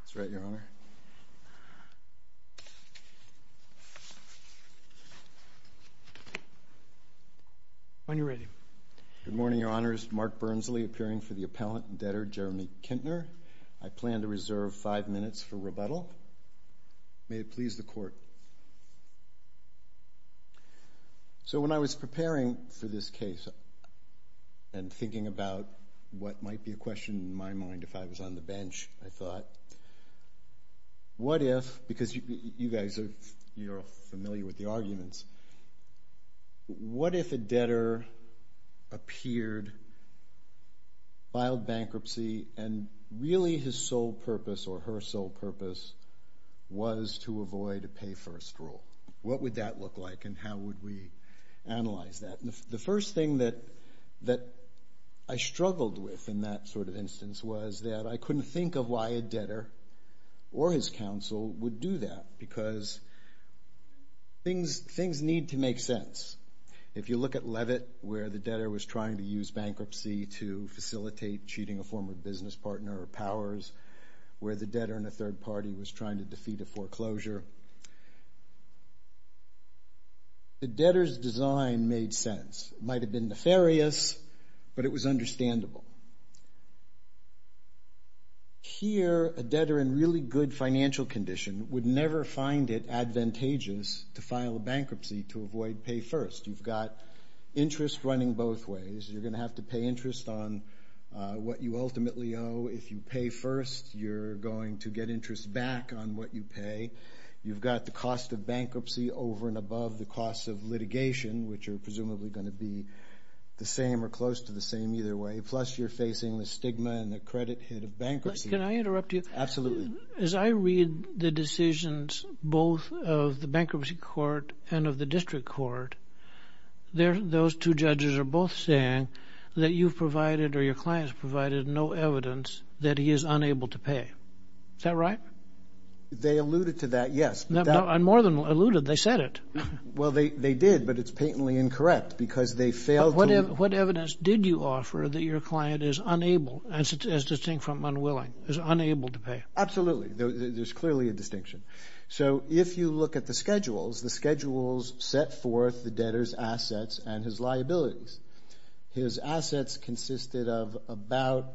That's right, Your Honor. When you're ready. Good morning, Your Honors. Mark Bernsley, appearing for the appellant and debtor Jeremy Kintner. I plan to reserve five minutes for rebuttal. May it please the Court. So when I was preparing for this case and thinking about what might be a question in my mind if I was on the bench, I thought, what if, because you guys are familiar with the arguments, what if a debtor appeared, filed bankruptcy, and really his sole purpose or her sole purpose was to avoid a pay-first rule? What would that look like, and how would we analyze that? The first thing that I struggled with in that sort of instance was that I couldn't think of why a debtor or his counsel would do that because things need to make sense. If you look at Levitt, where the debtor was trying to use bankruptcy to facilitate cheating a former business partner or powers, where the debtor and a third party was trying to defeat a foreclosure, the debtor's design made sense. It might have been nefarious, but it was understandable. Here, a debtor in really good financial condition would never find it advantageous to file a bankruptcy to avoid pay-first. You've got interest running both ways. You're going to have to pay interest on what you ultimately owe. If you pay first, you're going to get interest back on what you pay. You've got the cost of bankruptcy over and above the cost of litigation, which are presumably going to be the same or close to the same either way, plus you're facing the stigma and the credit hit of bankruptcy. Can I interrupt you? Absolutely. As I read the decisions both of the bankruptcy court and of the district court, those two judges are both saying that you've provided or your client's provided no evidence that he is unable to pay. Is that right? They alluded to that, yes. More than alluded, they said it. Well, they did, but it's patently incorrect because they failed to… What evidence did you offer that your client is unable, as distinct from unwilling, is unable to pay? Absolutely. There's clearly a distinction. So if you look at the schedules, the schedules set forth the debtor's assets and his liabilities. His assets consisted of about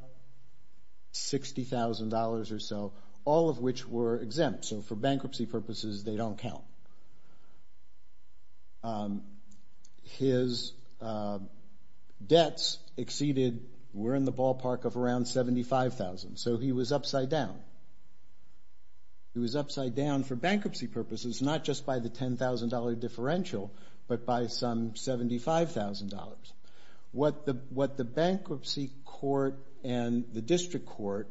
$60,000 or so, all of which were exempt. So for bankruptcy purposes, they don't count. His debts exceeded, were in the ballpark of around $75,000. So he was upside down. He was upside down for bankruptcy purposes, not just by the $10,000 differential, but by some $75,000. What the bankruptcy court and the district court…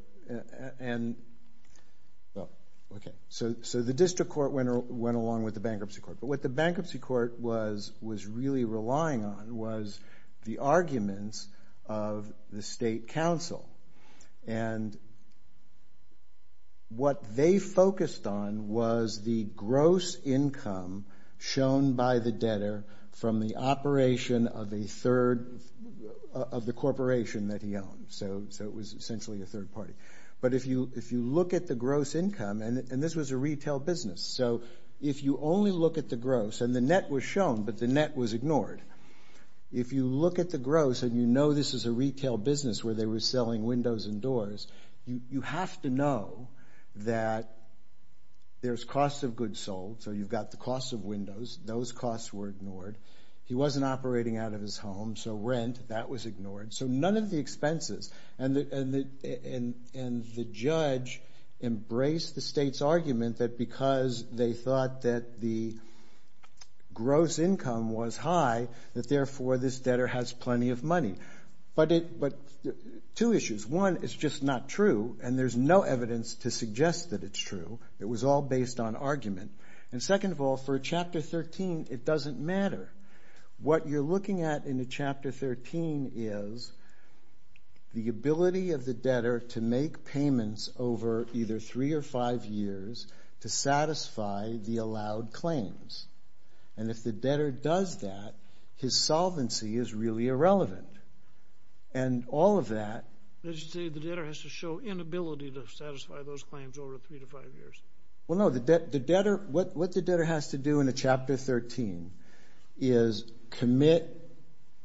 So the district court went along with the bankruptcy court. But what the bankruptcy court was really relying on was the arguments of the state council. And what they focused on was the gross income shown by the debtor from the operation of the corporation that he owned. So it was essentially a third party. But if you look at the gross income, and this was a retail business. So if you only look at the gross, and the net was shown, but the net was ignored. If you look at the gross and you know this is a retail business where they were selling windows and doors, you have to know that there's cost of goods sold. So you've got the cost of windows. Those costs were ignored. He wasn't operating out of his home, so rent, that was ignored. So none of the expenses. And the judge embraced the state's argument that because they thought that the gross income was high, that therefore this debtor has plenty of money. But two issues. One, it's just not true, and there's no evidence to suggest that it's true. It was all based on argument. And second of all, for a Chapter 13, it doesn't matter. What you're looking at in a Chapter 13 is the ability of the debtor to make payments over either three or five years to satisfy the allowed claims. And if the debtor does that, his solvency is really irrelevant. And all of that. As you say, the debtor has to show inability to satisfy those claims over three to five years. Well, no. What the debtor has to do in a Chapter 13 is commit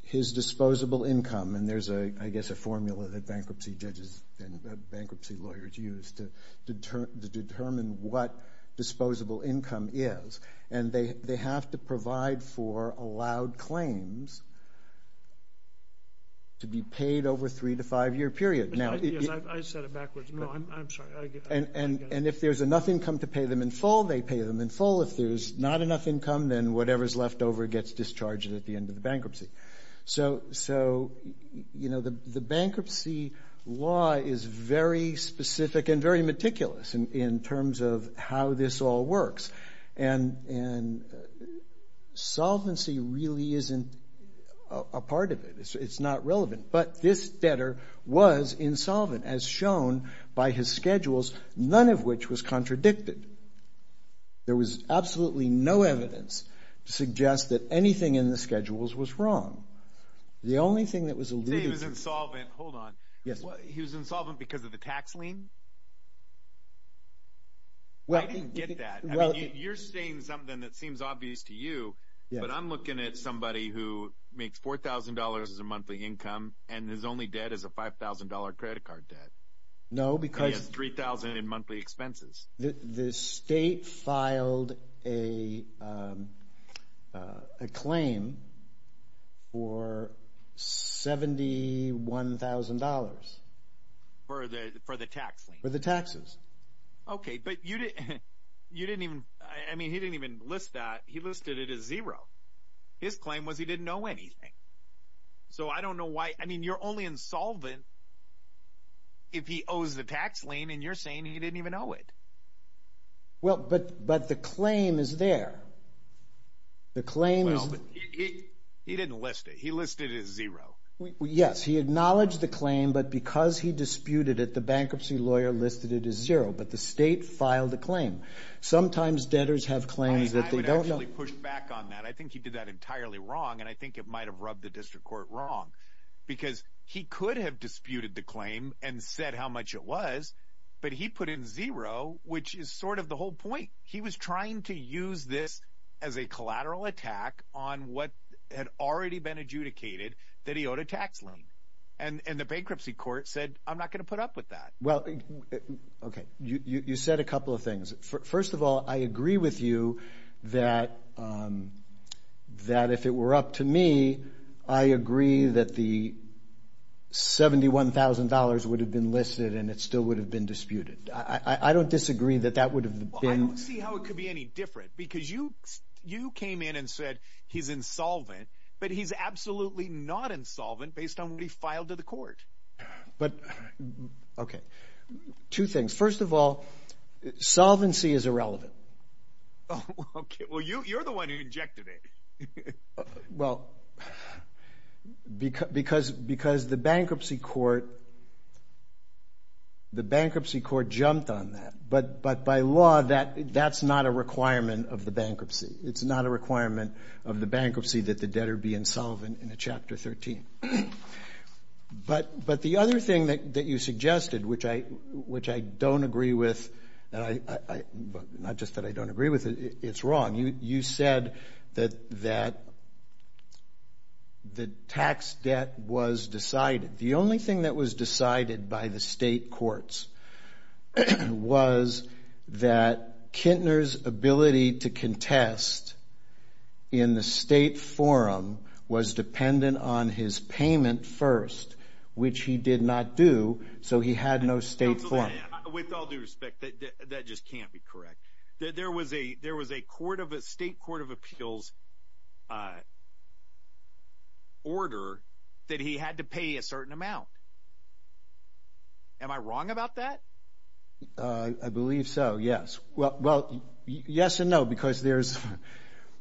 his disposable income. And there's, I guess, a formula that bankruptcy judges and bankruptcy lawyers use to determine what disposable income is. And they have to provide for allowed claims to be paid over a three to five-year period. Yes, I said it backwards. No, I'm sorry. And if there's enough income to pay them in full, they pay them in full. If there's not enough income, then whatever's left over gets discharged at the end of the bankruptcy. So, you know, the bankruptcy law is very specific and very meticulous in terms of how this all works. And solvency really isn't a part of it. It's not relevant. But this debtor was insolvent, as shown by his schedules, none of which was contradicted. There was absolutely no evidence to suggest that anything in the schedules was wrong. The only thing that was alluded to… You say he was insolvent. Hold on. He was insolvent because of the tax lien? I didn't get that. You're saying something that seems obvious to you, but I'm looking at somebody who makes $4,000 as a monthly income and his only debt is a $5,000 credit card debt. No, because… He has $3,000 in monthly expenses. The state filed a claim for $71,000. For the tax lien? For the taxes. Okay, but you didn't even… I mean, he didn't even list that. He listed it as zero. His claim was he didn't owe anything. So, I don't know why… I mean, you're only insolvent if he owes the tax lien and you're saying he didn't even owe it. Well, but the claim is there. The claim is… Well, but he didn't list it. He listed it as zero. Yes, he acknowledged the claim, but because he disputed it, the bankruptcy lawyer listed it as zero, but the state filed the claim. Sometimes debtors have claims that they don't know… I would actually push back on that. I think he did that entirely wrong, and I think it might have rubbed the district court wrong, because he could have disputed the claim and said how much it was, but he put in zero, which is sort of the whole point. He was trying to use this as a collateral attack on what had already been adjudicated that he owed a tax lien, and the bankruptcy court said, I'm not going to put up with that. Well, okay, you said a couple of things. First of all, I agree with you that if it were up to me, I agree that the $71,000 would have been listed and it still would have been disputed. I don't disagree that that would have been… Well, I don't see how it could be any different, because you came in and said he's insolvent, but he's absolutely not insolvent based on what he filed to the court. But, okay, two things. First of all, solvency is irrelevant. Okay, well, you're the one who injected it. Well, because the bankruptcy court jumped on that. But by law, that's not a requirement of the bankruptcy. It's not a requirement of the bankruptcy that the debtor be insolvent in Chapter 13. But the other thing that you suggested, which I don't agree with, not just that I don't agree with, it's wrong. You said that the tax debt was decided. The only thing that was decided by the state courts was that Kintner's ability to contest in the state forum was dependent on his payment first, which he did not do, so he had no state forum. With all due respect, that just can't be correct. There was a state court of appeals order that he had to pay a certain amount. Am I wrong about that? I believe so, yes. Well, yes and no, because there's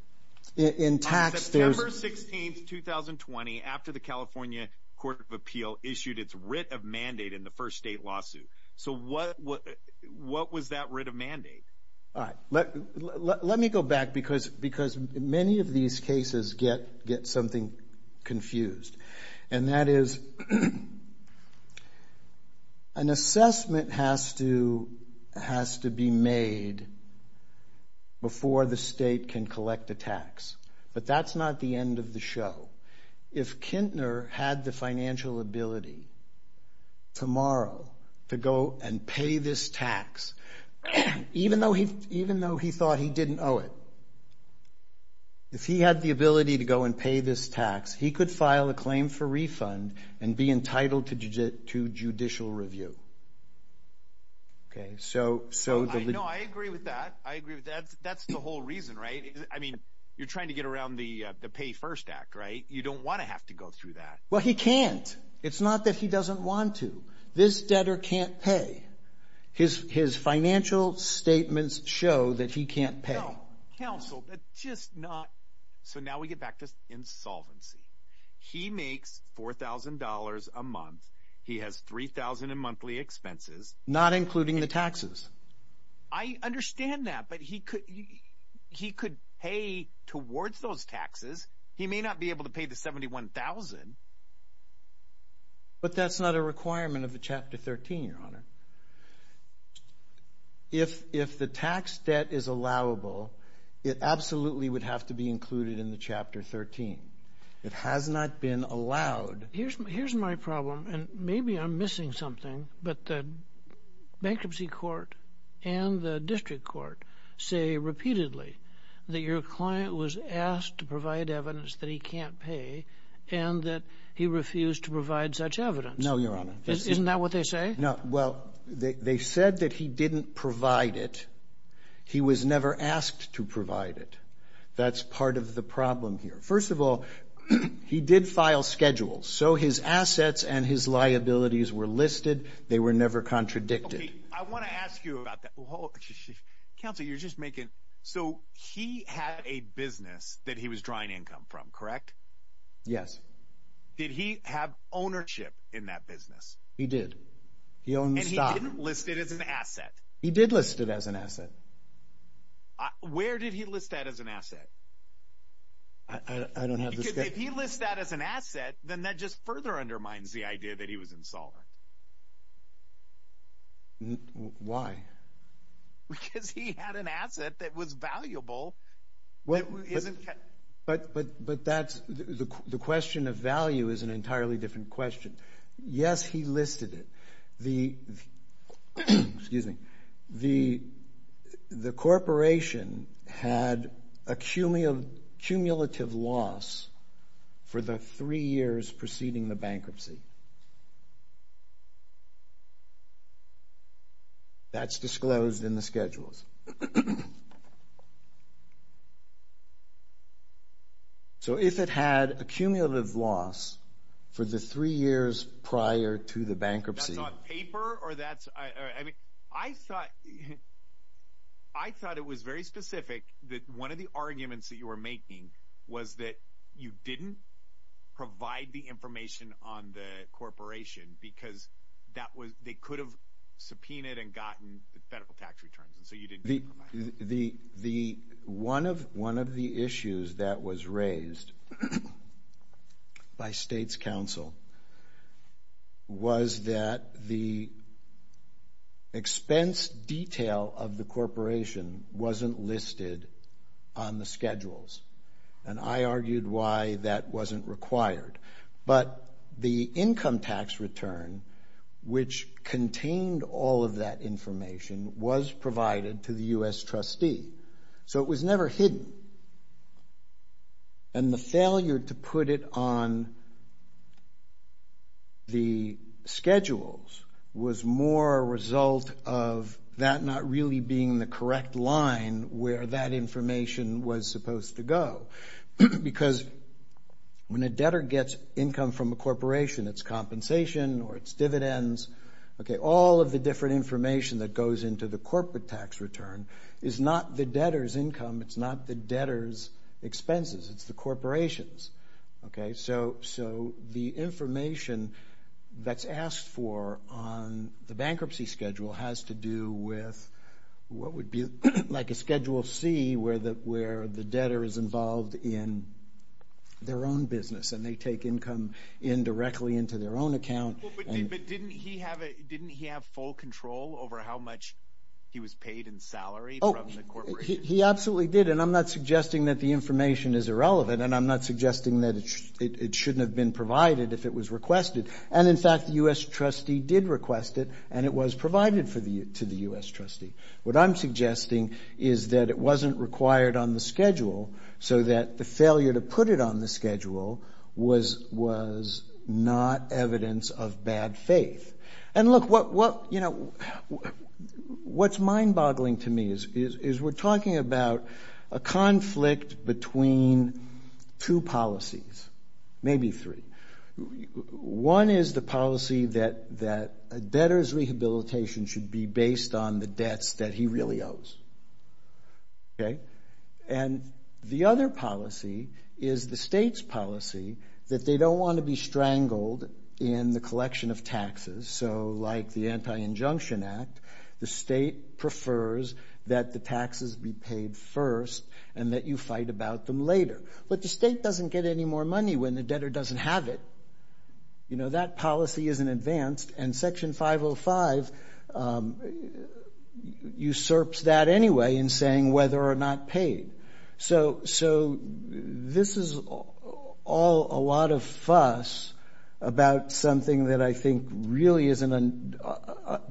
– in tax, there's – On September 16, 2020, after the California Court of Appeal issued its writ of mandate in the first state lawsuit. So what was that writ of mandate? All right. Let me go back because many of these cases get something confused, and that is an assessment has to be made before the state can collect a tax. But that's not the end of the show. If Kintner had the financial ability tomorrow to go and pay this tax, even though he thought he didn't owe it, if he had the ability to go and pay this tax, he could file a claim for refund and be entitled to judicial review. No, I agree with that. I agree with that. That's the whole reason, right? I mean, you're trying to get around the Pay First Act, right? You don't want to have to go through that. Well, he can't. It's not that he doesn't want to. This debtor can't pay. His financial statements show that he can't pay. No, counsel, that's just not – so now we get back to insolvency. He makes $4,000 a month. He has $3,000 in monthly expenses. Not including the taxes. I understand that, but he could pay towards those taxes. He may not be able to pay the $71,000. But that's not a requirement of the Chapter 13, Your Honor. If the tax debt is allowable, it absolutely would have to be included in the Chapter 13. It has not been allowed. Here's my problem, and maybe I'm missing something, but the Bankruptcy Court and the District Court say repeatedly that your client was asked to provide evidence that he can't pay and that he refused to provide such evidence. No, Your Honor. Isn't that what they say? No. Well, they said that he didn't provide it. He was never asked to provide it. That's part of the problem here. First of all, he did file schedules, so his assets and his liabilities were listed. They were never contradicted. I want to ask you about that. Counsel, you're just making – so he had a business that he was drawing income from, correct? Yes. Did he have ownership in that business? He did. He owned the stock. And he didn't list it as an asset? He did list it as an asset. Where did he list that as an asset? I don't have the scale. If he lists that as an asset, then that just further undermines the idea that he was insolvent. Why? Because he had an asset that was valuable. But that's – the question of value is an entirely different question. Yes, he listed it. Excuse me. The corporation had a cumulative loss for the three years preceding the bankruptcy. That's disclosed in the schedules. So if it had a cumulative loss for the three years prior to the bankruptcy – That's on paper or that's – I mean, I thought it was very specific that one of the arguments that you were making was that you didn't provide the information on the corporation because that was – you had subpoenaed and gotten the federal tax returns, and so you didn't provide it. One of the issues that was raised by state's counsel was that the expense detail of the corporation wasn't listed on the schedules. And I argued why that wasn't required. But the income tax return, which contained all of that information, was provided to the U.S. trustee. So it was never hidden. And the failure to put it on the schedules was more a result of that not really being the correct line where that information was supposed to go. Because when a debtor gets income from a corporation, it's compensation or it's dividends. All of the different information that goes into the corporate tax return is not the debtor's income. It's not the debtor's expenses. It's the corporation's. So the information that's asked for on the bankruptcy schedule has to do with what would be like a Schedule C where the debtor is involved in their own business, and they take income in directly into their own account. But didn't he have full control over how much he was paid in salary from the corporation? He absolutely did. And I'm not suggesting that the information is irrelevant, and I'm not suggesting that it shouldn't have been provided if it was requested. And, in fact, the U.S. trustee did request it, and it was provided to the U.S. trustee. What I'm suggesting is that it wasn't required on the schedule so that the failure to put it on the schedule was not evidence of bad faith. And, look, what's mind-boggling to me is we're talking about a conflict between two policies, maybe three. One is the policy that a debtor's rehabilitation should be based on the debts that he really owes. And the other policy is the state's policy that they don't want to be strangled in the collection of taxes. So, like the Anti-Injunction Act, the state prefers that the taxes be paid first and that you fight about them later. But the state doesn't get any more money when the debtor doesn't have it. You know, that policy isn't advanced, and Section 505 usurps that anyway in saying whether or not paid. So this is all a lot of fuss about something that I think really isn't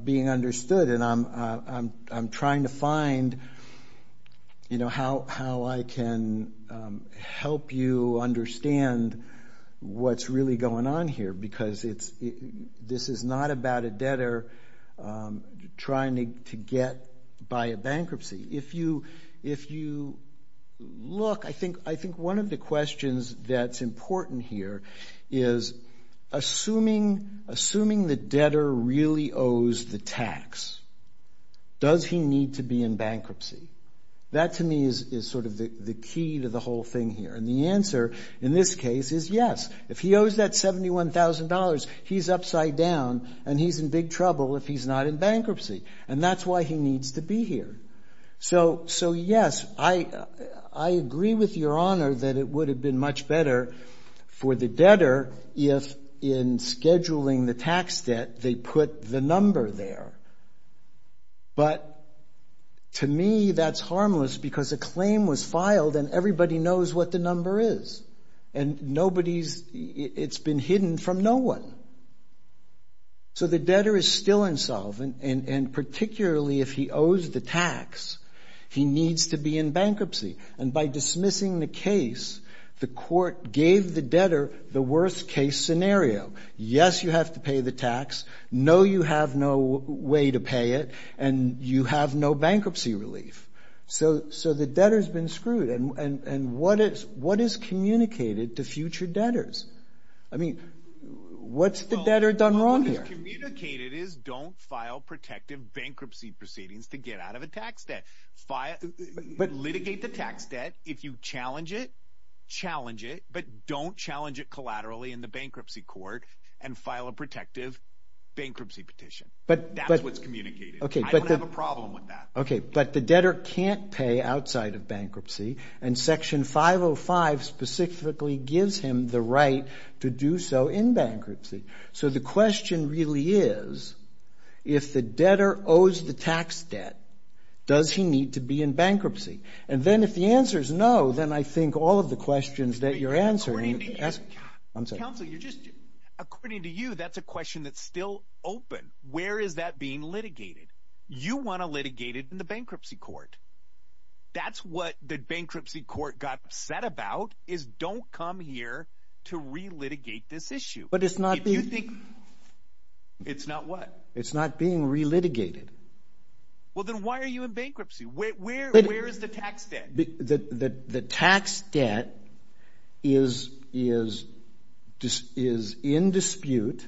being understood, and I'm trying to find, you know, how I can help you understand what's really going on here because this is not about a debtor trying to get by a bankruptcy. If you look, I think one of the questions that's important here is assuming the debtor really owes the tax, does he need to be in bankruptcy? That, to me, is sort of the key to the whole thing here. And the answer in this case is yes. If he owes that $71,000, he's upside down, and he's in big trouble if he's not in bankruptcy. And that's why he needs to be here. So yes, I agree with Your Honor that it would have been much better for the debtor if in scheduling the tax debt they put the number there. But to me, that's harmless because a claim was filed, and everybody knows what the number is. And nobody's, it's been hidden from no one. So the debtor is still insolvent, and particularly if he owes the tax, he needs to be in bankruptcy. And by dismissing the case, the court gave the debtor the worst case scenario. Yes, you have to pay the tax. No, you have no way to pay it. And you have no bankruptcy relief. So the debtor's been screwed. And what is communicated to future debtors? I mean, what's the debtor done wrong here? Well, what is communicated is don't file protective bankruptcy proceedings to get out of a tax debt. Litigate the tax debt. If you challenge it, challenge it. But don't challenge it collaterally in the bankruptcy court and file a protective bankruptcy petition. That's what's communicated. I don't have a problem with that. Okay, but the debtor can't pay outside of bankruptcy. And Section 505 specifically gives him the right to do so in bankruptcy. So the question really is, if the debtor owes the tax debt, does he need to be in bankruptcy? And then if the answer is no, then I think all of the questions that you're answering. According to you, that's a question that's still open. Where is that being litigated? You want to litigate it in the bankruptcy court. That's what the bankruptcy court got upset about is don't come here to re-litigate this issue. But it's not being. If you think. It's not what? It's not being re-litigated. Well, then why are you in bankruptcy? Where is the tax debt? The tax debt is in dispute,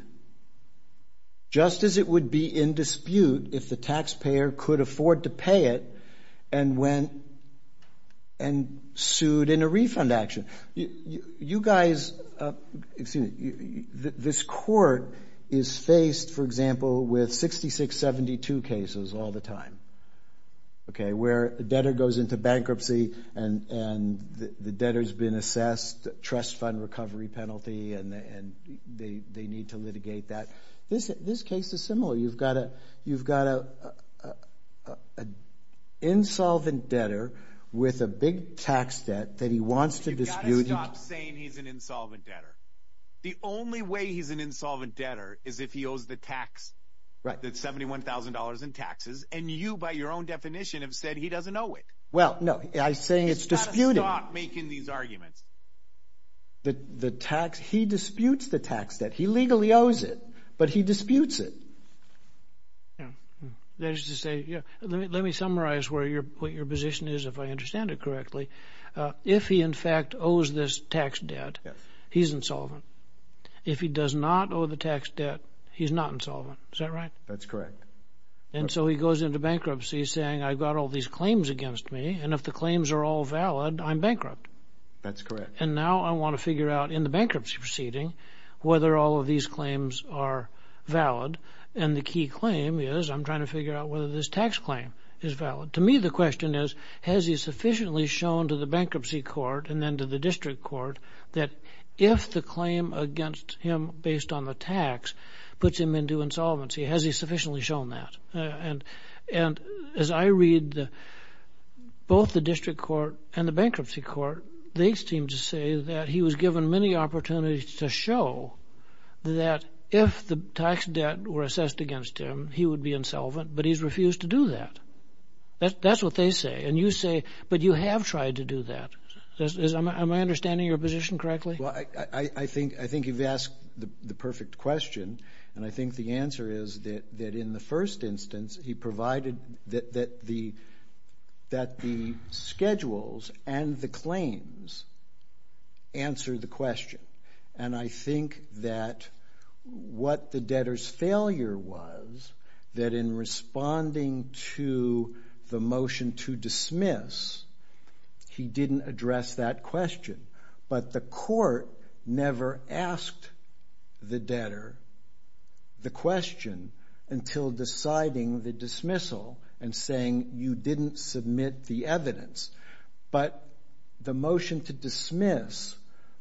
just as it would be in dispute if the taxpayer could afford to pay it and sued in a refund action. You guys, this court is faced, for example, with 6672 cases all the time. Where a debtor goes into bankruptcy and the debtor's been assessed a trust fund recovery penalty and they need to litigate that. This case is similar. You've got an insolvent debtor with a big tax debt that he wants to dispute. You've got to stop saying he's an insolvent debtor. The only way he's an insolvent debtor is if he owes the tax. Right. That's $71,000 in taxes. And you, by your own definition, have said he doesn't owe it. Well, no. I'm saying it's disputed. You've got to stop making these arguments. The tax. He disputes the tax debt. He legally owes it. But he disputes it. That is to say, let me summarize what your position is, if I understand it correctly. If he, in fact, owes this tax debt, he's insolvent. If he does not owe the tax debt, he's not insolvent. Is that right? That's correct. And so he goes into bankruptcy saying, I've got all these claims against me. And if the claims are all valid, I'm bankrupt. That's correct. And now I want to figure out in the bankruptcy proceeding whether all of these claims are valid. And the key claim is I'm trying to figure out whether this tax claim is valid. To me, the question is, has he sufficiently shown to the bankruptcy court and then to the district court that if the claim against him based on the tax puts him into insolvency, has he sufficiently shown that? And as I read both the district court and the bankruptcy court, they seem to say that he was given many opportunities to show that if the tax debt were assessed against him, he would be insolvent, but he's refused to do that. That's what they say. And you say, but you have tried to do that. Am I understanding your position correctly? Well, I think you've asked the perfect question. And I think the answer is that in the first instance, he provided that the schedules and the claims answer the question. And I think that what the debtor's failure was that in responding to the motion to dismiss, he didn't address that question. But the court never asked the debtor the question until deciding the dismissal and saying you didn't submit the evidence. But the motion to dismiss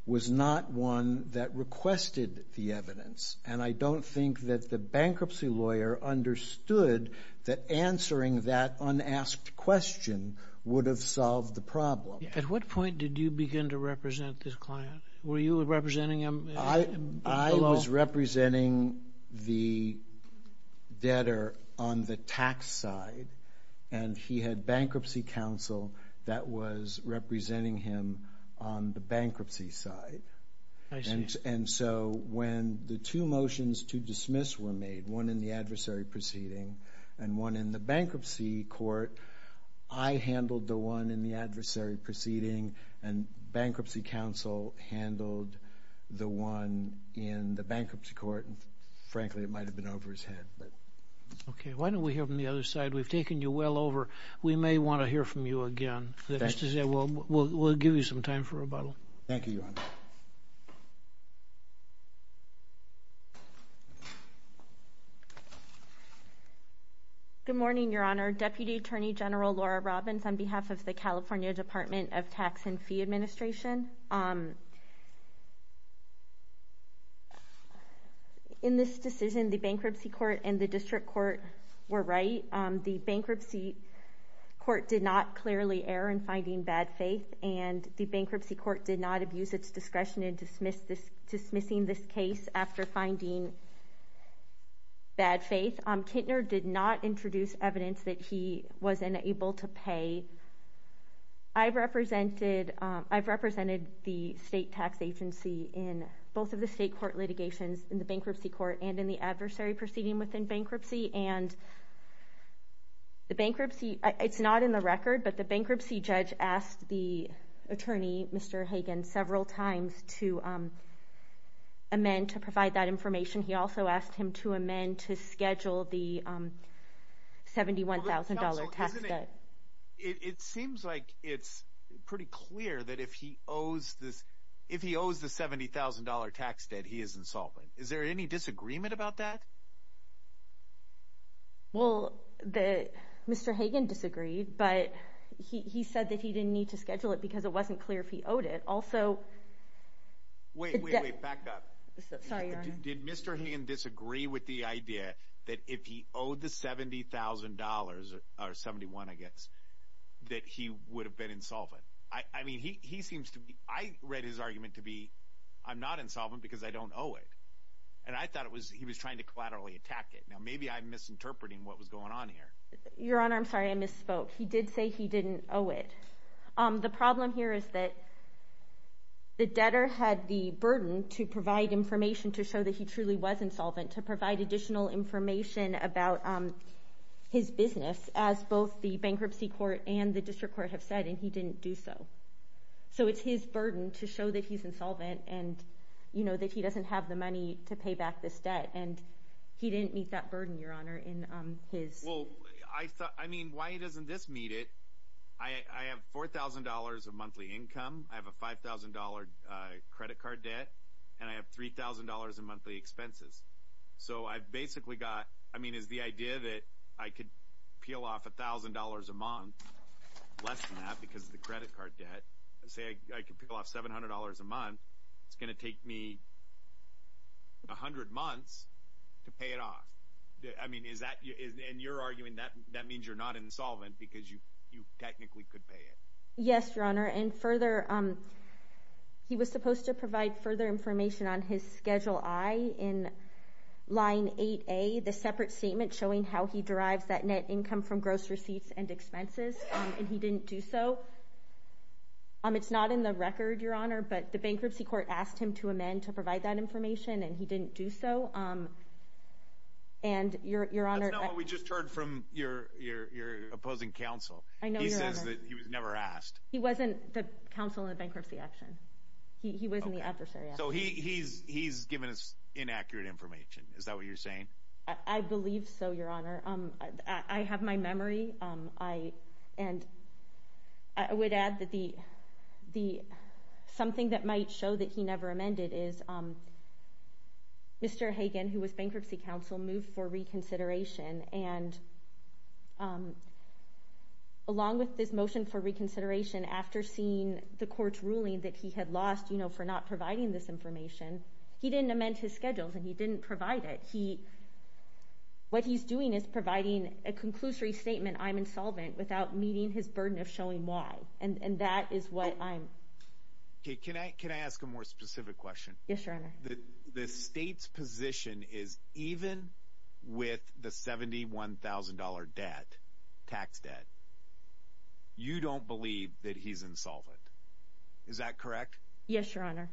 was not one that requested the evidence. And I don't think that the bankruptcy lawyer understood that answering that unasked question would have solved the problem. At what point did you begin to represent this client? Were you representing him? I was representing the debtor on the tax side. And he had bankruptcy counsel that was representing him on the bankruptcy side. I see. And so when the two motions to dismiss were made, one in the adversary proceeding and one in the bankruptcy court, I handled the one in the adversary proceeding and bankruptcy counsel handled the one in the bankruptcy court. And frankly, it might have been over his head. Okay. Why don't we hear from the other side? We've taken you well over. We may want to hear from you again. We'll give you some time for rebuttal. Thank you, Your Honor. Good morning, Your Honor. Deputy Attorney General Laura Robbins on behalf of the California Department of Tax and Fee Administration. In this decision, the bankruptcy court and the district court were right. The bankruptcy court did not clearly err in finding bad faith, and the bankruptcy court did not abuse its discretion in dismissing this case after finding bad faith. Kintner did not introduce evidence that he was unable to pay. I've represented the state tax agency in both of the state court litigations in the bankruptcy court and in the adversary proceeding within bankruptcy. And the bankruptcy, it's not in the record, but the bankruptcy judge asked the attorney, Mr. Hagan, several times to amend, to provide that information. He also asked him to amend to schedule the $71,000 tax debt. It seems like it's pretty clear that if he owes the $70,000 tax debt, he is insolvent. Is there any disagreement about that? Well, Mr. Hagan disagreed, but he said that he didn't need to schedule it because it wasn't clear if he owed it. Wait, wait, wait, back up. Sorry, Your Honor. Did Mr. Hagan disagree with the idea that if he owed the $70,000, or $71,000, I guess, that he would have been insolvent? I mean, he seems to be, I read his argument to be, I'm not insolvent because I don't owe it. And I thought he was trying to collaterally attack it. Now, maybe I'm misinterpreting what was going on here. Your Honor, I'm sorry, I misspoke. He did say he didn't owe it. The problem here is that the debtor had the burden to provide information to show that he truly was insolvent, to provide additional information about his business, as both the bankruptcy court and the district court have said, and he didn't do so. So it's his burden to show that he's insolvent and, you know, that he doesn't have the money to pay back this debt. And he didn't meet that burden, Your Honor, in his – Well, I mean, why doesn't this meet it? I have $4,000 of monthly income. I have a $5,000 credit card debt, and I have $3,000 in monthly expenses. So I've basically got – I mean, is the idea that I could peel off $1,000 a month, less than that because of the credit card debt, say I could peel off $700 a month, it's going to take me 100 months to pay it off. I mean, is that – and you're arguing that that means you're not insolvent because you technically could pay it. Yes, Your Honor. And further, he was supposed to provide further information on his Schedule I in line 8A, the separate statement showing how he derives that net income from gross receipts and expenses, and he didn't do so. It's not in the record, Your Honor, but the bankruptcy court asked him to amend to provide that information, and he didn't do so. And, Your Honor – That's not what we just heard from your opposing counsel. I know, Your Honor. He says that he was never asked. He wasn't the counsel in the bankruptcy action. He wasn't the adversary. So he's given us inaccurate information. Is that what you're saying? I believe so, Your Honor. I have my memory, and I would add that the – something that might show that he never amended is Mr. Hagan, who was bankruptcy counsel, moved for reconsideration, and along with this motion for reconsideration, after seeing the court's ruling that he had lost, you know, for not providing this information, he didn't amend his schedule, and he didn't provide it. What he's doing is providing a conclusory statement, I'm insolvent, without meeting his burden of showing why, and that is what I'm – Okay, can I ask a more specific question? Yes, Your Honor. The state's position is even with the $71,000 debt, tax debt, you don't believe that he's insolvent. Is that correct? Yes, Your Honor.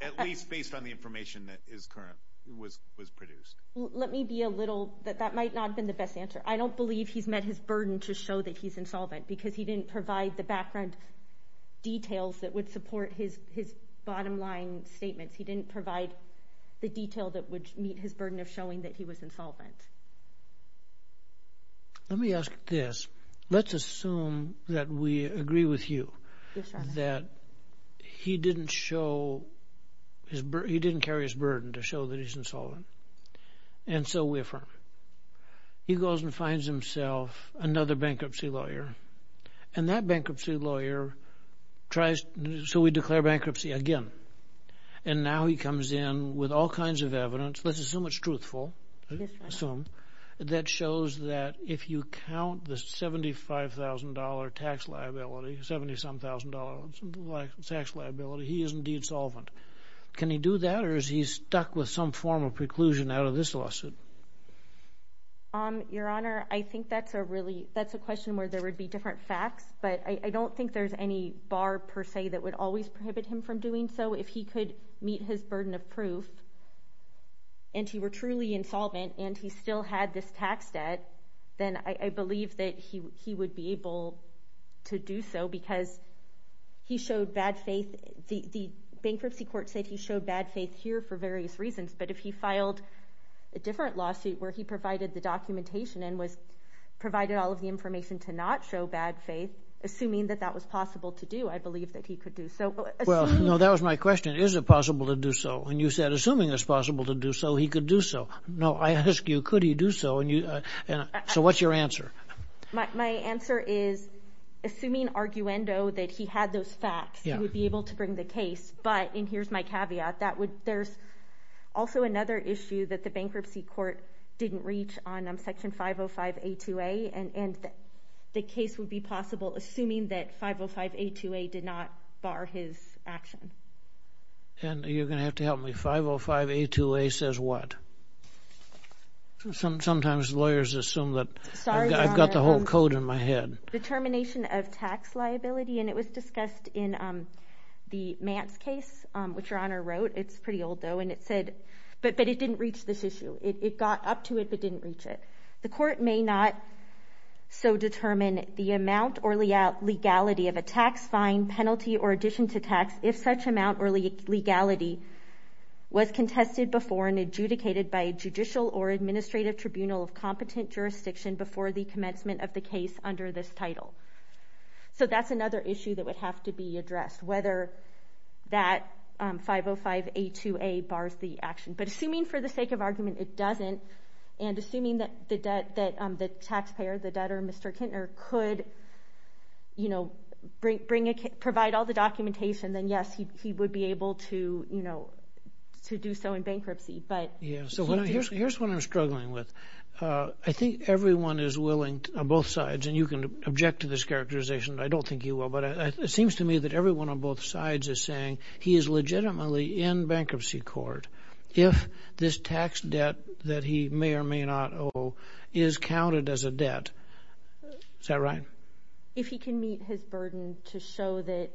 At least based on the information that is current, was produced. Let me be a little – that might not have been the best answer. I don't believe he's met his burden to show that he's insolvent because he didn't provide the background details that would support his bottom line statements. He didn't provide the detail that would meet his burden of showing that he was insolvent. Let me ask this. Let's assume that we agree with you that he didn't show – he didn't carry his burden to show that he's insolvent. And so we affirm. He goes and finds himself another bankruptcy lawyer, and that bankruptcy lawyer tries – so we declare bankruptcy again. And now he comes in with all kinds of evidence. Let's assume it's truthful. Yes, Your Honor. Assume. That shows that if you count the $75,000 tax liability, $70-some-thousand tax liability, he is indeed solvent. Can he do that, or is he stuck with some form of preclusion out of this lawsuit? Your Honor, I think that's a really – that's a question where there would be different facts. But I don't think there's any bar per se that would always prohibit him from doing so. If he could meet his burden of proof and he were truly insolvent and he still had this tax debt, then I believe that he would be able to do so because he showed bad faith. The bankruptcy court said he showed bad faith here for various reasons. But if he filed a different lawsuit where he provided the documentation and provided all of the information to not show bad faith, assuming that that was possible to do, I believe that he could do so. Well, no, that was my question. Is it possible to do so? And you said, assuming it's possible to do so, he could do so. No, I ask you, could he do so? So what's your answer? My answer is, assuming arguendo that he had those facts, he would be able to bring the case. But, and here's my caveat, there's also another issue that the bankruptcy court didn't reach on Section 505A2A, and the case would be possible assuming that 505A2A did not bar his action. And you're going to have to help me. 505A2A says what? Sometimes lawyers assume that I've got the whole code in my head. Determination of tax liability, and it was discussed in the Mance case, which your Honor wrote. It's pretty old, though, and it said, but it didn't reach this issue. It got up to it but didn't reach it. The court may not so determine the amount or legality of a tax fine, penalty, or addition to tax if such amount or legality was contested before and adjudicated by a judicial or administrative tribunal of competent jurisdiction before the commencement of the case under this title. So that's another issue that would have to be addressed, whether that 505A2A bars the action. But assuming for the sake of argument it doesn't, and assuming that the taxpayer, the debtor, Mr. Kintner, could provide all the documentation, then yes, he would be able to do so in bankruptcy. Here's what I'm struggling with. I think everyone is willing on both sides, and you can object to this characterization. I don't think you will, but it seems to me that everyone on both sides is saying he is legitimately in bankruptcy court if this tax debt that he may or may not owe is counted as a debt. Is that right? If he can meet his burden to show that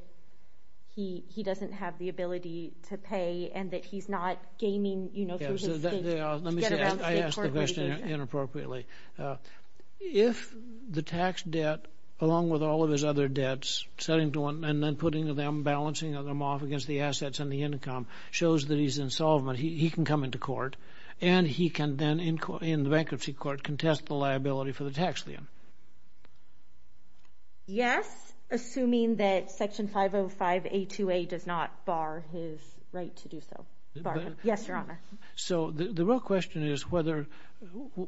he doesn't have the ability to pay and that he's not gaming through his feet to get around state court regulations. Let me say, I asked the question inappropriately. If the tax debt, along with all of his other debts, and then putting them, balancing them off against the assets and the income, shows that he's in solvent, he can come into court, and he can then, in the bankruptcy court, contest the liability for the tax lien. Yes, assuming that Section 505A2A does not bar his right to do so. Yes, Your Honor. So the real question is whether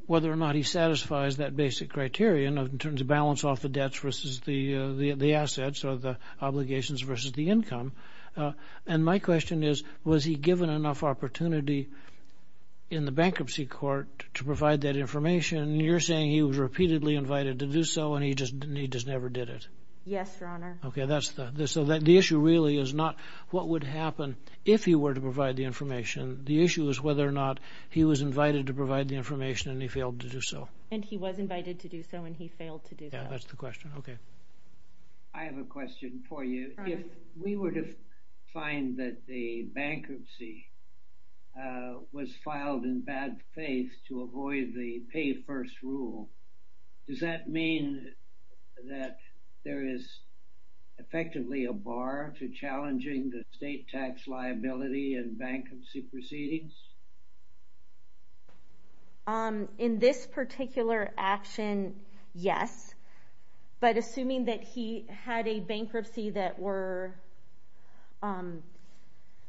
or not he satisfies that basic criterion in terms of balance off the debts versus the assets or the obligations versus the income. And my question is, was he given enough opportunity in the bankruptcy court to provide that information? You're saying he was repeatedly invited to do so and he just never did it. Yes, Your Honor. Okay, so the issue really is not what would happen if he were to provide the information. The issue is whether or not he was invited to provide the information and he failed to do so. And he was invited to do so and he failed to do so. Yeah, that's the question. Okay. I have a question for you. If we were to find that the bankruptcy was filed in bad faith to avoid the pay first rule, does that mean that there is effectively a bar to challenging the state tax liability and bankruptcy proceedings? In this particular action, yes. But assuming that he had a bankruptcy that were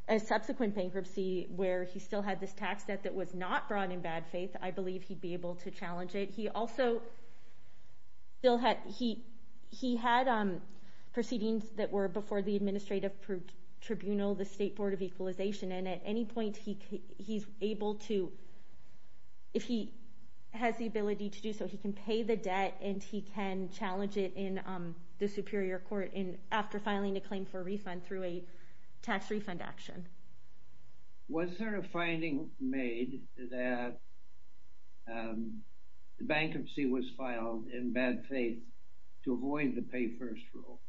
a subsequent bankruptcy where he still had this tax debt that was not brought in bad faith, I believe he'd be able to challenge it. He also still had proceedings that were before the administrative tribunal, the State Board of Equalization. And at any point, if he has the ability to do so, he can pay the debt and he can challenge it in the superior court after filing a claim for a refund through a tax refund action. Was there a finding made that the bankruptcy was filed in bad faith to avoid the pay first rule?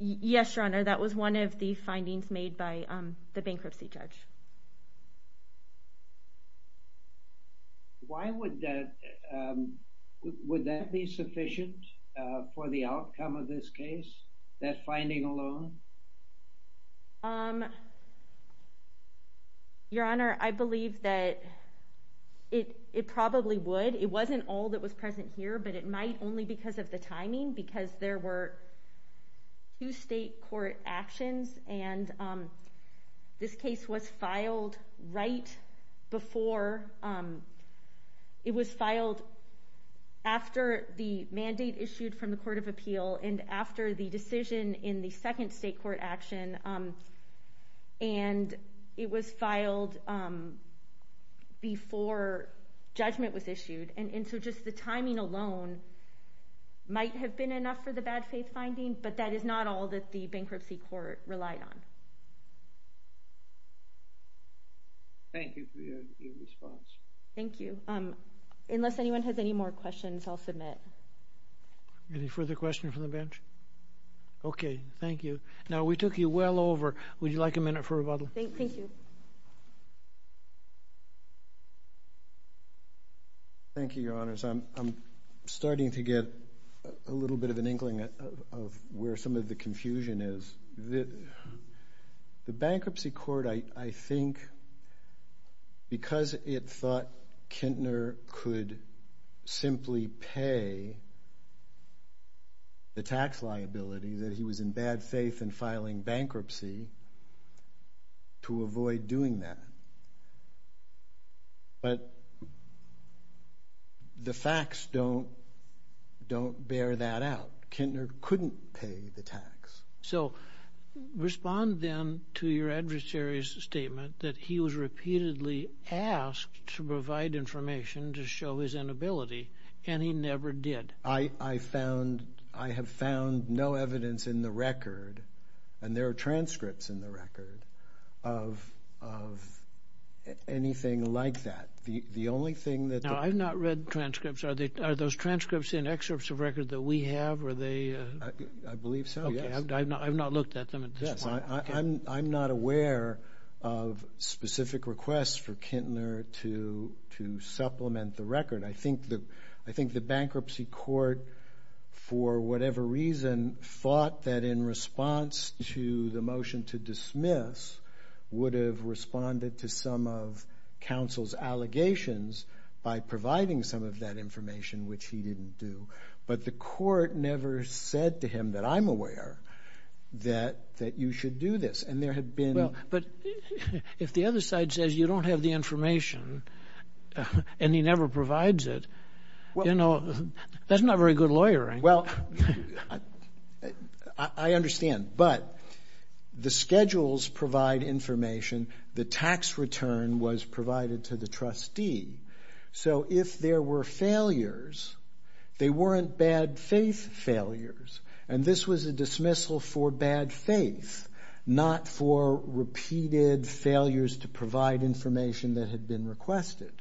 Yes, Your Honor. That was one of the findings made by the bankruptcy judge. Why would that be sufficient for the outcome of this case, that finding alone? Your Honor, I believe that it probably would. It wasn't all that was present here, but it might only because of the timing, because there were two state court actions and this case was filed right before. It was filed after the mandate issued from the Court of Appeal and after the decision in the second state court action. And it was filed before judgment was issued. And so just the timing alone might have been enough for the bad faith finding, but that is not all that the bankruptcy court relied on. Thank you for your response. Thank you. Unless anyone has any more questions, I'll submit. Any further questions from the bench? Okay, thank you. Now, we took you well over. Would you like a minute for rebuttal? Thank you. Thank you, Your Honors. I'm starting to get a little bit of an inkling of where some of the confusion is. The bankruptcy court, I think, because it thought Kintner could simply pay the tax liability, that he was in bad faith in filing bankruptcy to avoid doing that. But the facts don't bear that out. Kintner couldn't pay the tax. So respond then to your adversary's statement that he was repeatedly asked to provide information to show his inability, and he never did. I have found no evidence in the record, and there are transcripts in the record, of anything like that. Now, I've not read transcripts. Are those transcripts in excerpts of record that we have? I believe so, yes. Okay, I've not looked at them at this point. I'm not aware of specific requests for Kintner to supplement the record. I think the bankruptcy court, for whatever reason, thought that in response to the motion to dismiss, would have responded to some of counsel's allegations by providing some of that information, which he didn't do. But the court never said to him, that I'm aware, that you should do this. But if the other side says you don't have the information, and he never provides it, that's not very good lawyering. Well, I understand. But the schedules provide information. The tax return was provided to the trustee. So if there were failures, they weren't bad faith failures, and this was a dismissal for bad faith, not for repeated failures to provide information that had been requested.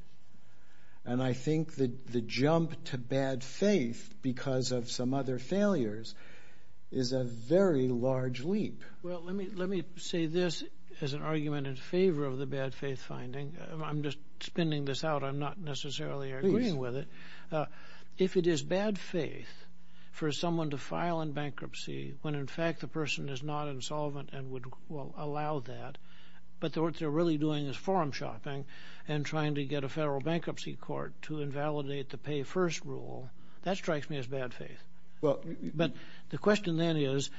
And I think that the jump to bad faith, because of some other failures, is a very large leap. Well, let me say this as an argument in favor of the bad faith finding. I'm just spinning this out. I'm not necessarily agreeing with it. If it is bad faith for someone to file in bankruptcy when, in fact, the person is not insolvent and would allow that, but what they're really doing is forum shopping and trying to get a federal bankruptcy court to invalidate the pay-first rule, that strikes me as bad faith. But the question then is,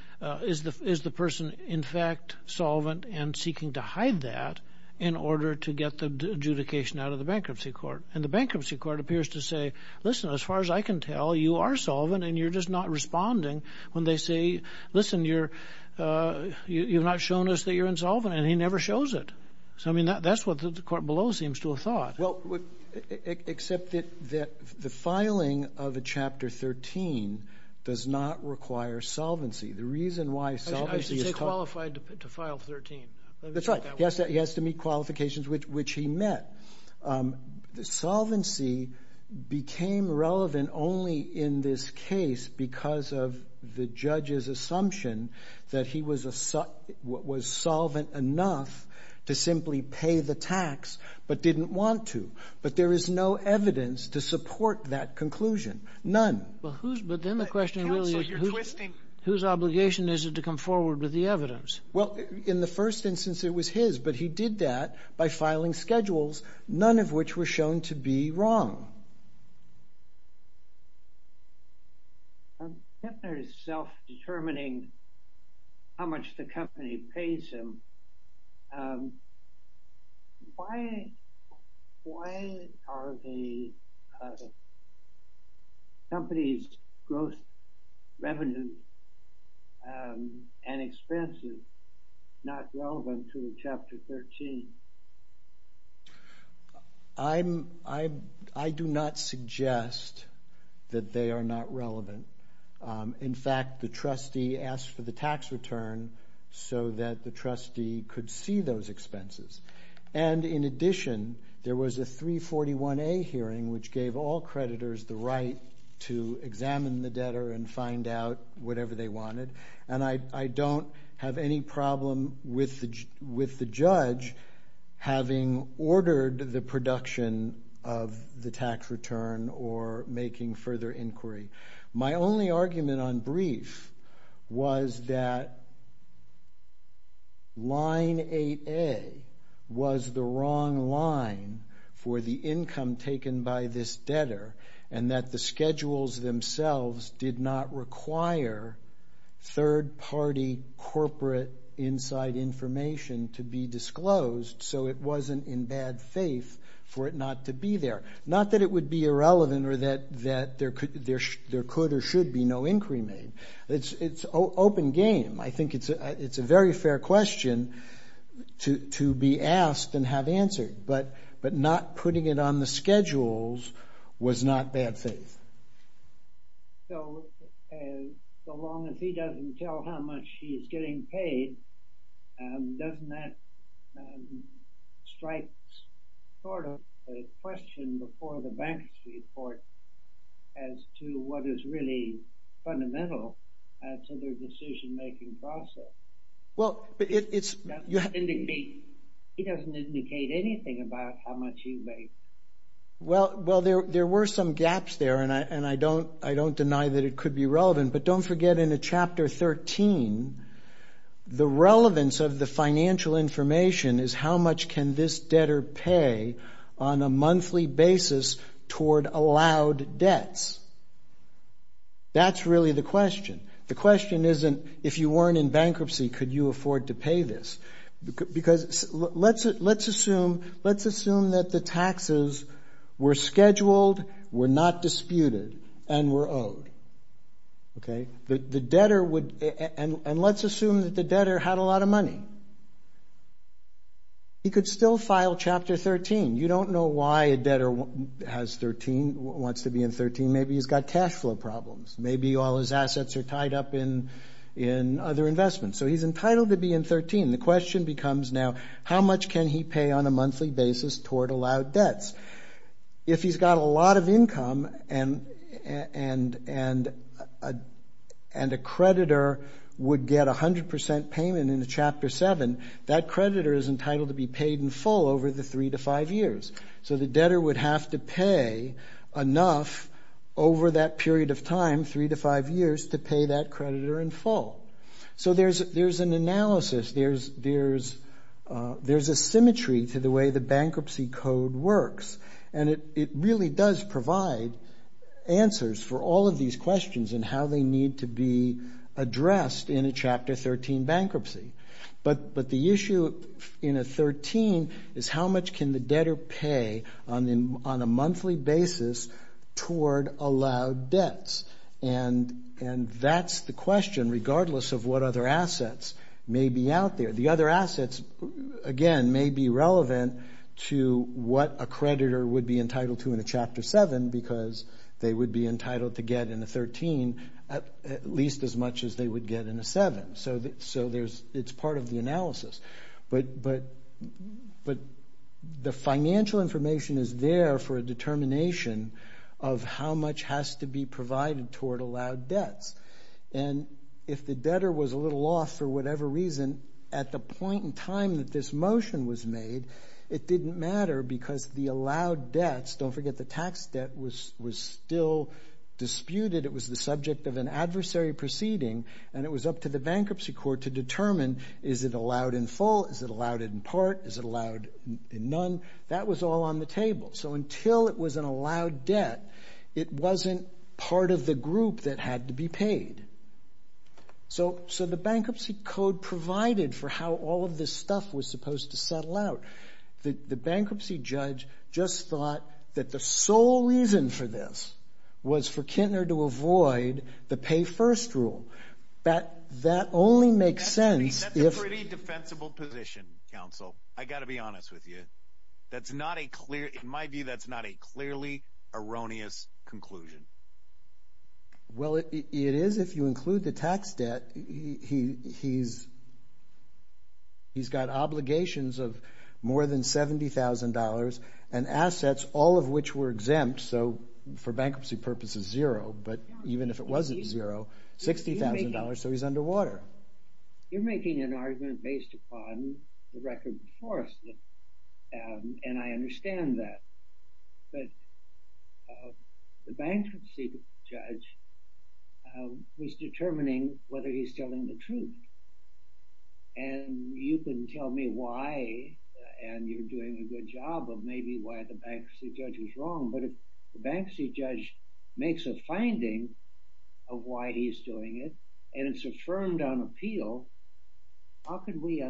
is the person, in fact, solvent and seeking to hide that in order to get the adjudication out of the bankruptcy court? And the bankruptcy court appears to say, listen, as far as I can tell, you are solvent, and you're just not responding when they say, listen, you're not showing us that you're insolvent. And he never shows it. So, I mean, that's what the court below seems to have thought. Well, except that the filing of a Chapter 13 does not require solvency. The reason why solvency is called. I should say qualified to file 13. That's right. He has to meet qualifications, which he met. Solvency became relevant only in this case because of the judge's assumption that he was solvent enough to simply pay the tax, but didn't want to. But there is no evidence to support that conclusion. None. Counsel, you're twisting. Whose obligation is it to come forward with the evidence? Well, in the first instance, it was his, but he did that by filing schedules, none of which were shown to be wrong. Kepner is self-determining how much the company pays him. Why are the company's growth revenue and expenses not relevant to Chapter 13? I do not suggest that they are not relevant. In fact, the trustee asked for the tax return so that the trustee could see those expenses. And in addition, there was a 341A hearing, which gave all creditors the right to examine the debtor and find out whatever they wanted. And I don't have any problem with the judge having ordered the production of the tax return or making further inquiry. My only argument on brief was that line 8A was the wrong line for the income taken by this debtor and that the schedules themselves did not require third-party corporate inside information to be disclosed, so it wasn't in bad faith for it not to be there. Not that it would be irrelevant or that there could or should be no inquiry made. It's open game. I think it's a very fair question to be asked and have answered. But not putting it on the schedules was not bad faith. So long as he doesn't tell how much he's getting paid, doesn't that strike sort of a question before the bankers' report as to what is really fundamental to their decision-making process? He doesn't indicate anything about how much he's getting paid. Well, there were some gaps there, and I don't deny that it could be relevant. But don't forget in Chapter 13, the relevance of the financial information is how much can this debtor pay on a monthly basis toward allowed debts. That's really the question. The question isn't, if you weren't in bankruptcy, could you afford to pay this? Because let's assume that the taxes were scheduled, were not disputed, and were owed. And let's assume that the debtor had a lot of money. He could still file Chapter 13. You don't know why a debtor wants to be in 13. Maybe he's got cash flow problems. Maybe all his assets are tied up in other investments. So he's entitled to be in 13. The question becomes now, how much can he pay on a monthly basis toward allowed debts? If he's got a lot of income and a creditor would get 100% payment in Chapter 7, that creditor is entitled to be paid in full over the three to five years. So the debtor would have to pay enough over that period of time, three to five years, to pay that creditor in full. So there's an analysis. There's a symmetry to the way the bankruptcy code works, and it really does provide answers for all of these questions and how they need to be addressed in a Chapter 13 bankruptcy. But the issue in a 13 is how much can the debtor pay on a monthly basis toward allowed debts? And that's the question, regardless of what other assets may be out there. The other assets, again, may be relevant to what a creditor would be entitled to in a Chapter 7 because they would be entitled to get in a 13 at least as much as they would get in a 7. So it's part of the analysis. But the financial information is there for a determination of how much has to be provided toward allowed debts. And if the debtor was a little off for whatever reason at the point in time that this motion was made, it didn't matter because the allowed debts, don't forget the tax debt, was still disputed. It was the subject of an adversary proceeding, and it was up to the bankruptcy court to determine, is it allowed in full, is it allowed in part, is it allowed in none? That was all on the table. So until it was an allowed debt, it wasn't part of the group that had to be paid. So the bankruptcy code provided for how all of this stuff was supposed to settle out. The bankruptcy judge just thought that the sole reason for this was for Kintner to avoid the pay-first rule. That only makes sense if... That's a pretty defensible position, counsel. I've got to be honest with you. That's not a clear, in my view, that's not a clearly erroneous conclusion. Well, it is if you include the tax debt. He's got obligations of more than $70,000 and assets, all of which were exempt, so for bankruptcy purposes, zero, but even if it wasn't zero, $60,000, so he's underwater. You're making an argument based upon the record before us, and I understand that. But the bankruptcy judge was determining whether he's telling the truth, and you can tell me why, and you're doing a good job of maybe why the bankruptcy judge was wrong, but if the bankruptcy judge makes a finding of why he's doing it, and it's affirmed on appeal, how can we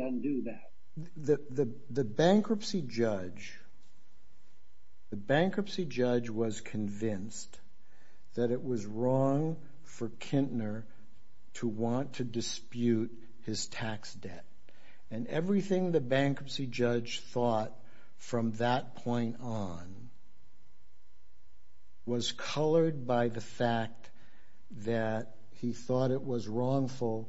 undo that? The bankruptcy judge was convinced that it was wrong for Kintner to want to dispute his tax debt, and everything the bankruptcy judge thought from that point on was colored by the fact that he thought it was wrongful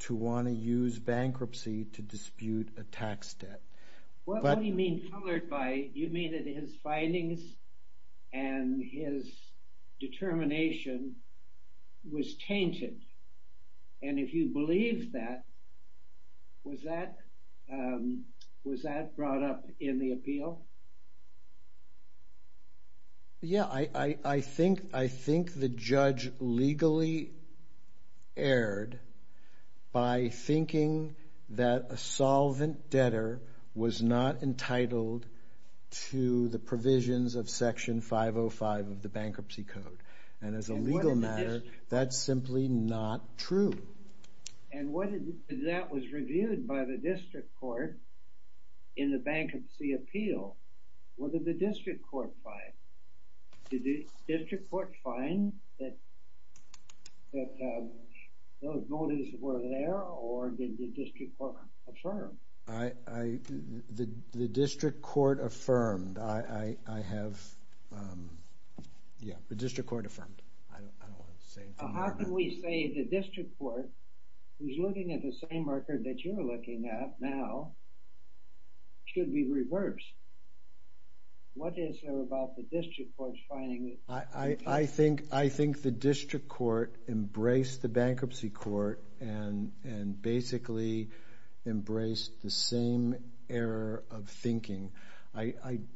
to want to use bankruptcy to dispute a tax debt. What do you mean colored by? You mean that his findings and his determination was tainted, and if you believe that, was that brought up in the appeal? Yeah, I think the judge legally erred by thinking that a solvent debtor was not entitled to the provisions of Section 505 of the Bankruptcy Code, and as a legal matter, that's simply not true. And that was reviewed by the district court in the bankruptcy appeal. What did the district court find? Did the district court find that those motives were there, or did the district court affirm? The district court affirmed. I have, yeah, the district court affirmed. How can we say the district court, who's looking at the same record that you're looking at now, should be reversed? What is there about the district court's finding? I think the district court embraced the bankruptcy court and basically embraced the same error of thinking. You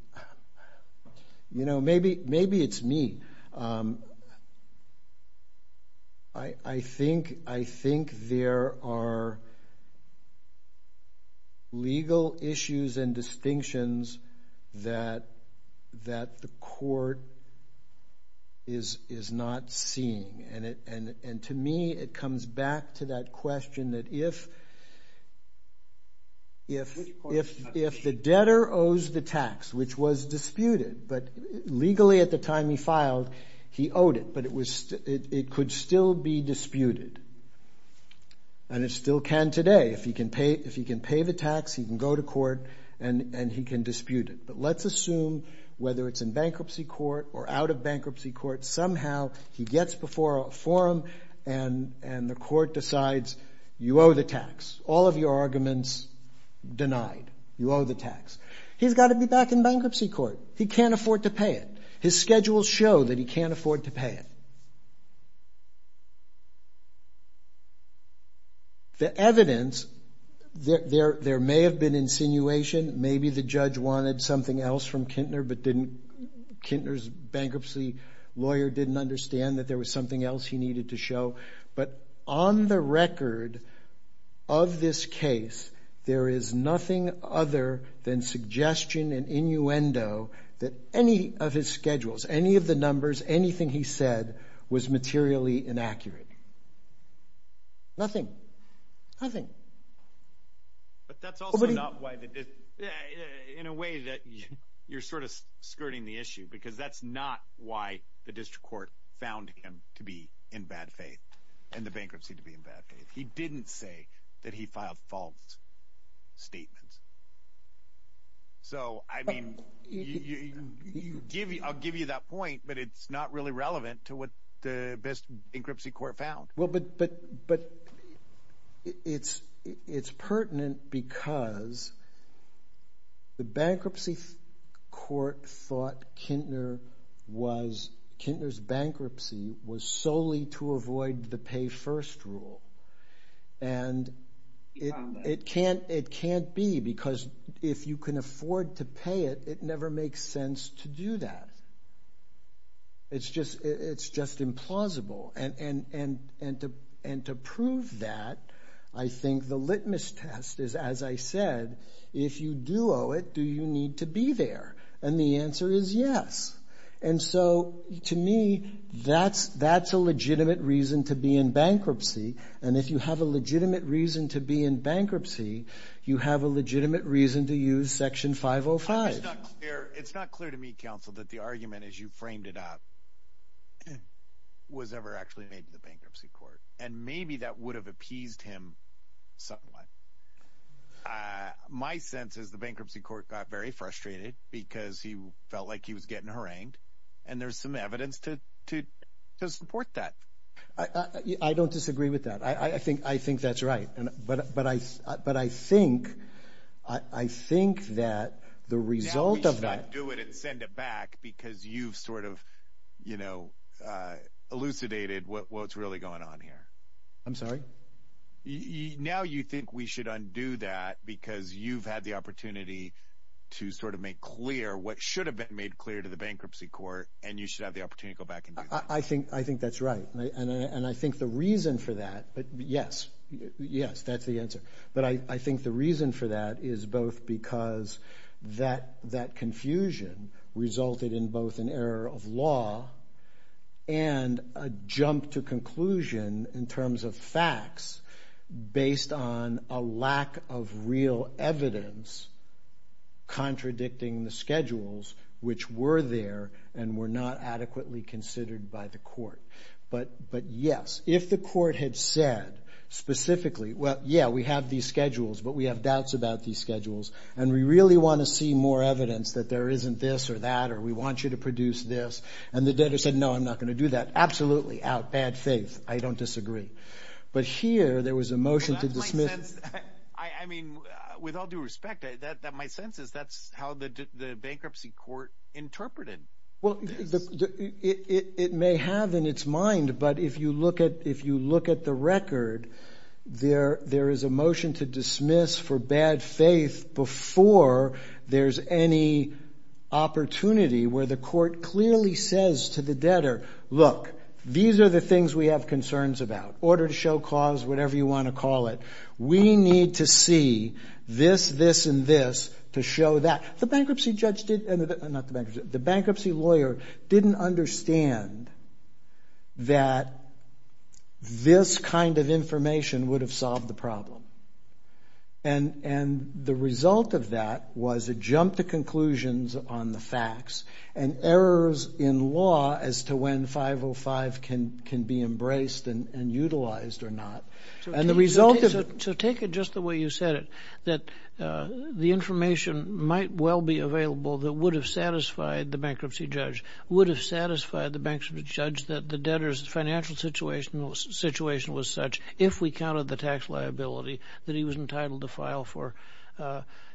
know, maybe it's me. I think there are legal issues and distinctions that the court is not seeing, and to me, it comes back to that question that if the debtor owes the tax, which was disputed, but legally at the time he filed, he owed it, but it could still be disputed, and it still can today. If he can pay the tax, he can go to court, and he can dispute it. But let's assume whether it's in bankruptcy court or out of bankruptcy court, somehow he gets before a forum, and the court decides you owe the tax. All of your arguments denied. You owe the tax. He's got to be back in bankruptcy court. He can't afford to pay it. His schedules show that he can't afford to pay it. The evidence, there may have been insinuation. Maybe the judge wanted something else from Kintner, but Kintner's bankruptcy lawyer didn't understand that there was something else he needed to show. But on the record of this case, there is nothing other than suggestion and innuendo that any of his schedules, any of the numbers, anything he said was materially inaccurate. Nothing. Nothing. But that's also not why the district court, in a way that you're sort of skirting the issue because that's not why the district court found him to be in bad faith and the bankruptcy to be in bad faith. He didn't say that he filed false statements. So, I mean, I'll give you that point, but it's not really relevant to what the best bankruptcy court found. Well, but it's pertinent because the bankruptcy court thought Kintner was, Kintner's bankruptcy was solely to avoid the pay first rule. And it can't be because if you can afford to pay it, it never makes sense to do that. It's just implausible. And to prove that, I think the litmus test is, as I said, if you do owe it, do you need to be there? And the answer is yes. And so, to me, that's a legitimate reason to be in bankruptcy. And if you have a legitimate reason to be in bankruptcy, you have a legitimate reason to use Section 505. It's not clear to me, counsel, that the argument as you framed it up was ever actually made to the bankruptcy court. And maybe that would have appeased him somewhat. My sense is the bankruptcy court got very frustrated because he felt like he was getting harangued, and there's some evidence to support that. I don't disagree with that. I think that's right. But I think that the result of that. Now we should undo it and send it back because you've sort of, you know, elucidated what's really going on here. I'm sorry? Now you think we should undo that because you've had the opportunity to sort of make clear what should have been made clear to the bankruptcy court, and you should have the opportunity to go back and do that. I think that's right. And I think the reason for that, yes, yes, that's the answer. But I think the reason for that is both because that confusion resulted in both an error of law and a jump to conclusion in terms of facts based on a lack of real evidence contradicting the schedules which were there and were not adequately considered by the court. But yes, if the court had said specifically, well, yeah, we have these schedules, but we have doubts about these schedules, and we really want to see more evidence that there isn't this or that or we want you to produce this, and the debtor said, no, I'm not going to do that, absolutely, out, bad faith. I don't disagree. But here there was a motion to dismiss. I mean, with all due respect, my sense is that's how the bankruptcy court interpreted this. It may have in its mind, but if you look at the record, there is a motion to dismiss for bad faith before there's any opportunity where the court clearly says to the debtor, look, these are the things we have concerns about, order to show cause, whatever you want to call it. We need to see this, this, and this to show that. The bankruptcy lawyer didn't understand that this kind of information would have solved the problem. And the result of that was a jump to conclusions on the facts and errors in law as to when 505 can be embraced and utilized or not. So take it just the way you said it, that the information might well be available that would have satisfied the bankruptcy judge, would have satisfied the bankruptcy judge that the debtor's financial situation was such, if we counted the tax liability that he was entitled to file for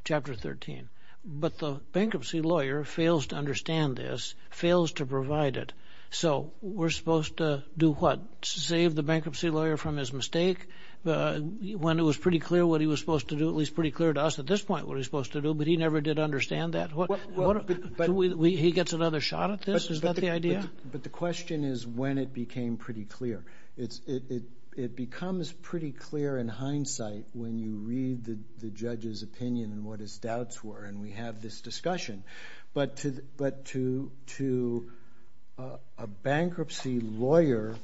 Chapter 13. But the bankruptcy lawyer fails to understand this, fails to provide it. So we're supposed to do what? Save the bankruptcy lawyer from his mistake when it was pretty clear what he was supposed to do, at least pretty clear to us at this point what he was supposed to do, but he never did understand that. He gets another shot at this? Is that the idea? But the question is when it became pretty clear. It becomes pretty clear in hindsight when you read the judge's opinion and what his doubts were, and we have this discussion. But to a bankruptcy lawyer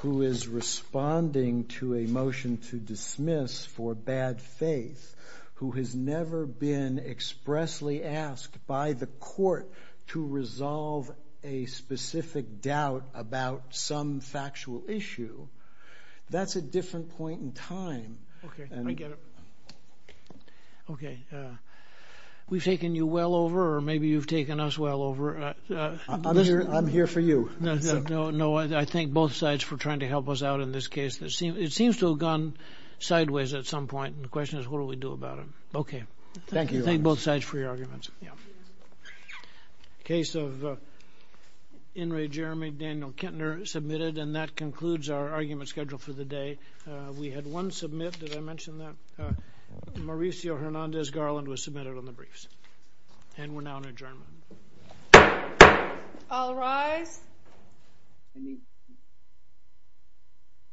who is responding to a motion to dismiss for bad faith, who has never been expressly asked by the court to resolve a specific doubt about some factual issue, that's a different point in time. Okay, I get it. Okay, we've taken you well over or maybe you've taken us well over. I'm here for you. No, I thank both sides for trying to help us out in this case. It seems to have gone sideways at some point, and the question is what do we do about it? Okay. Thank you. Thank both sides for your arguments. Case of In re Jeremy Daniel Kintner submitted, and that concludes our argument schedule for the day. We had one submit. Did I mention that? Mauricio Hernandez Garland was submitted on the briefs, and we're now in adjournment. All rise.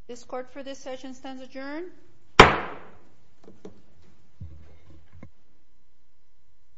This court for this session stands adjourned.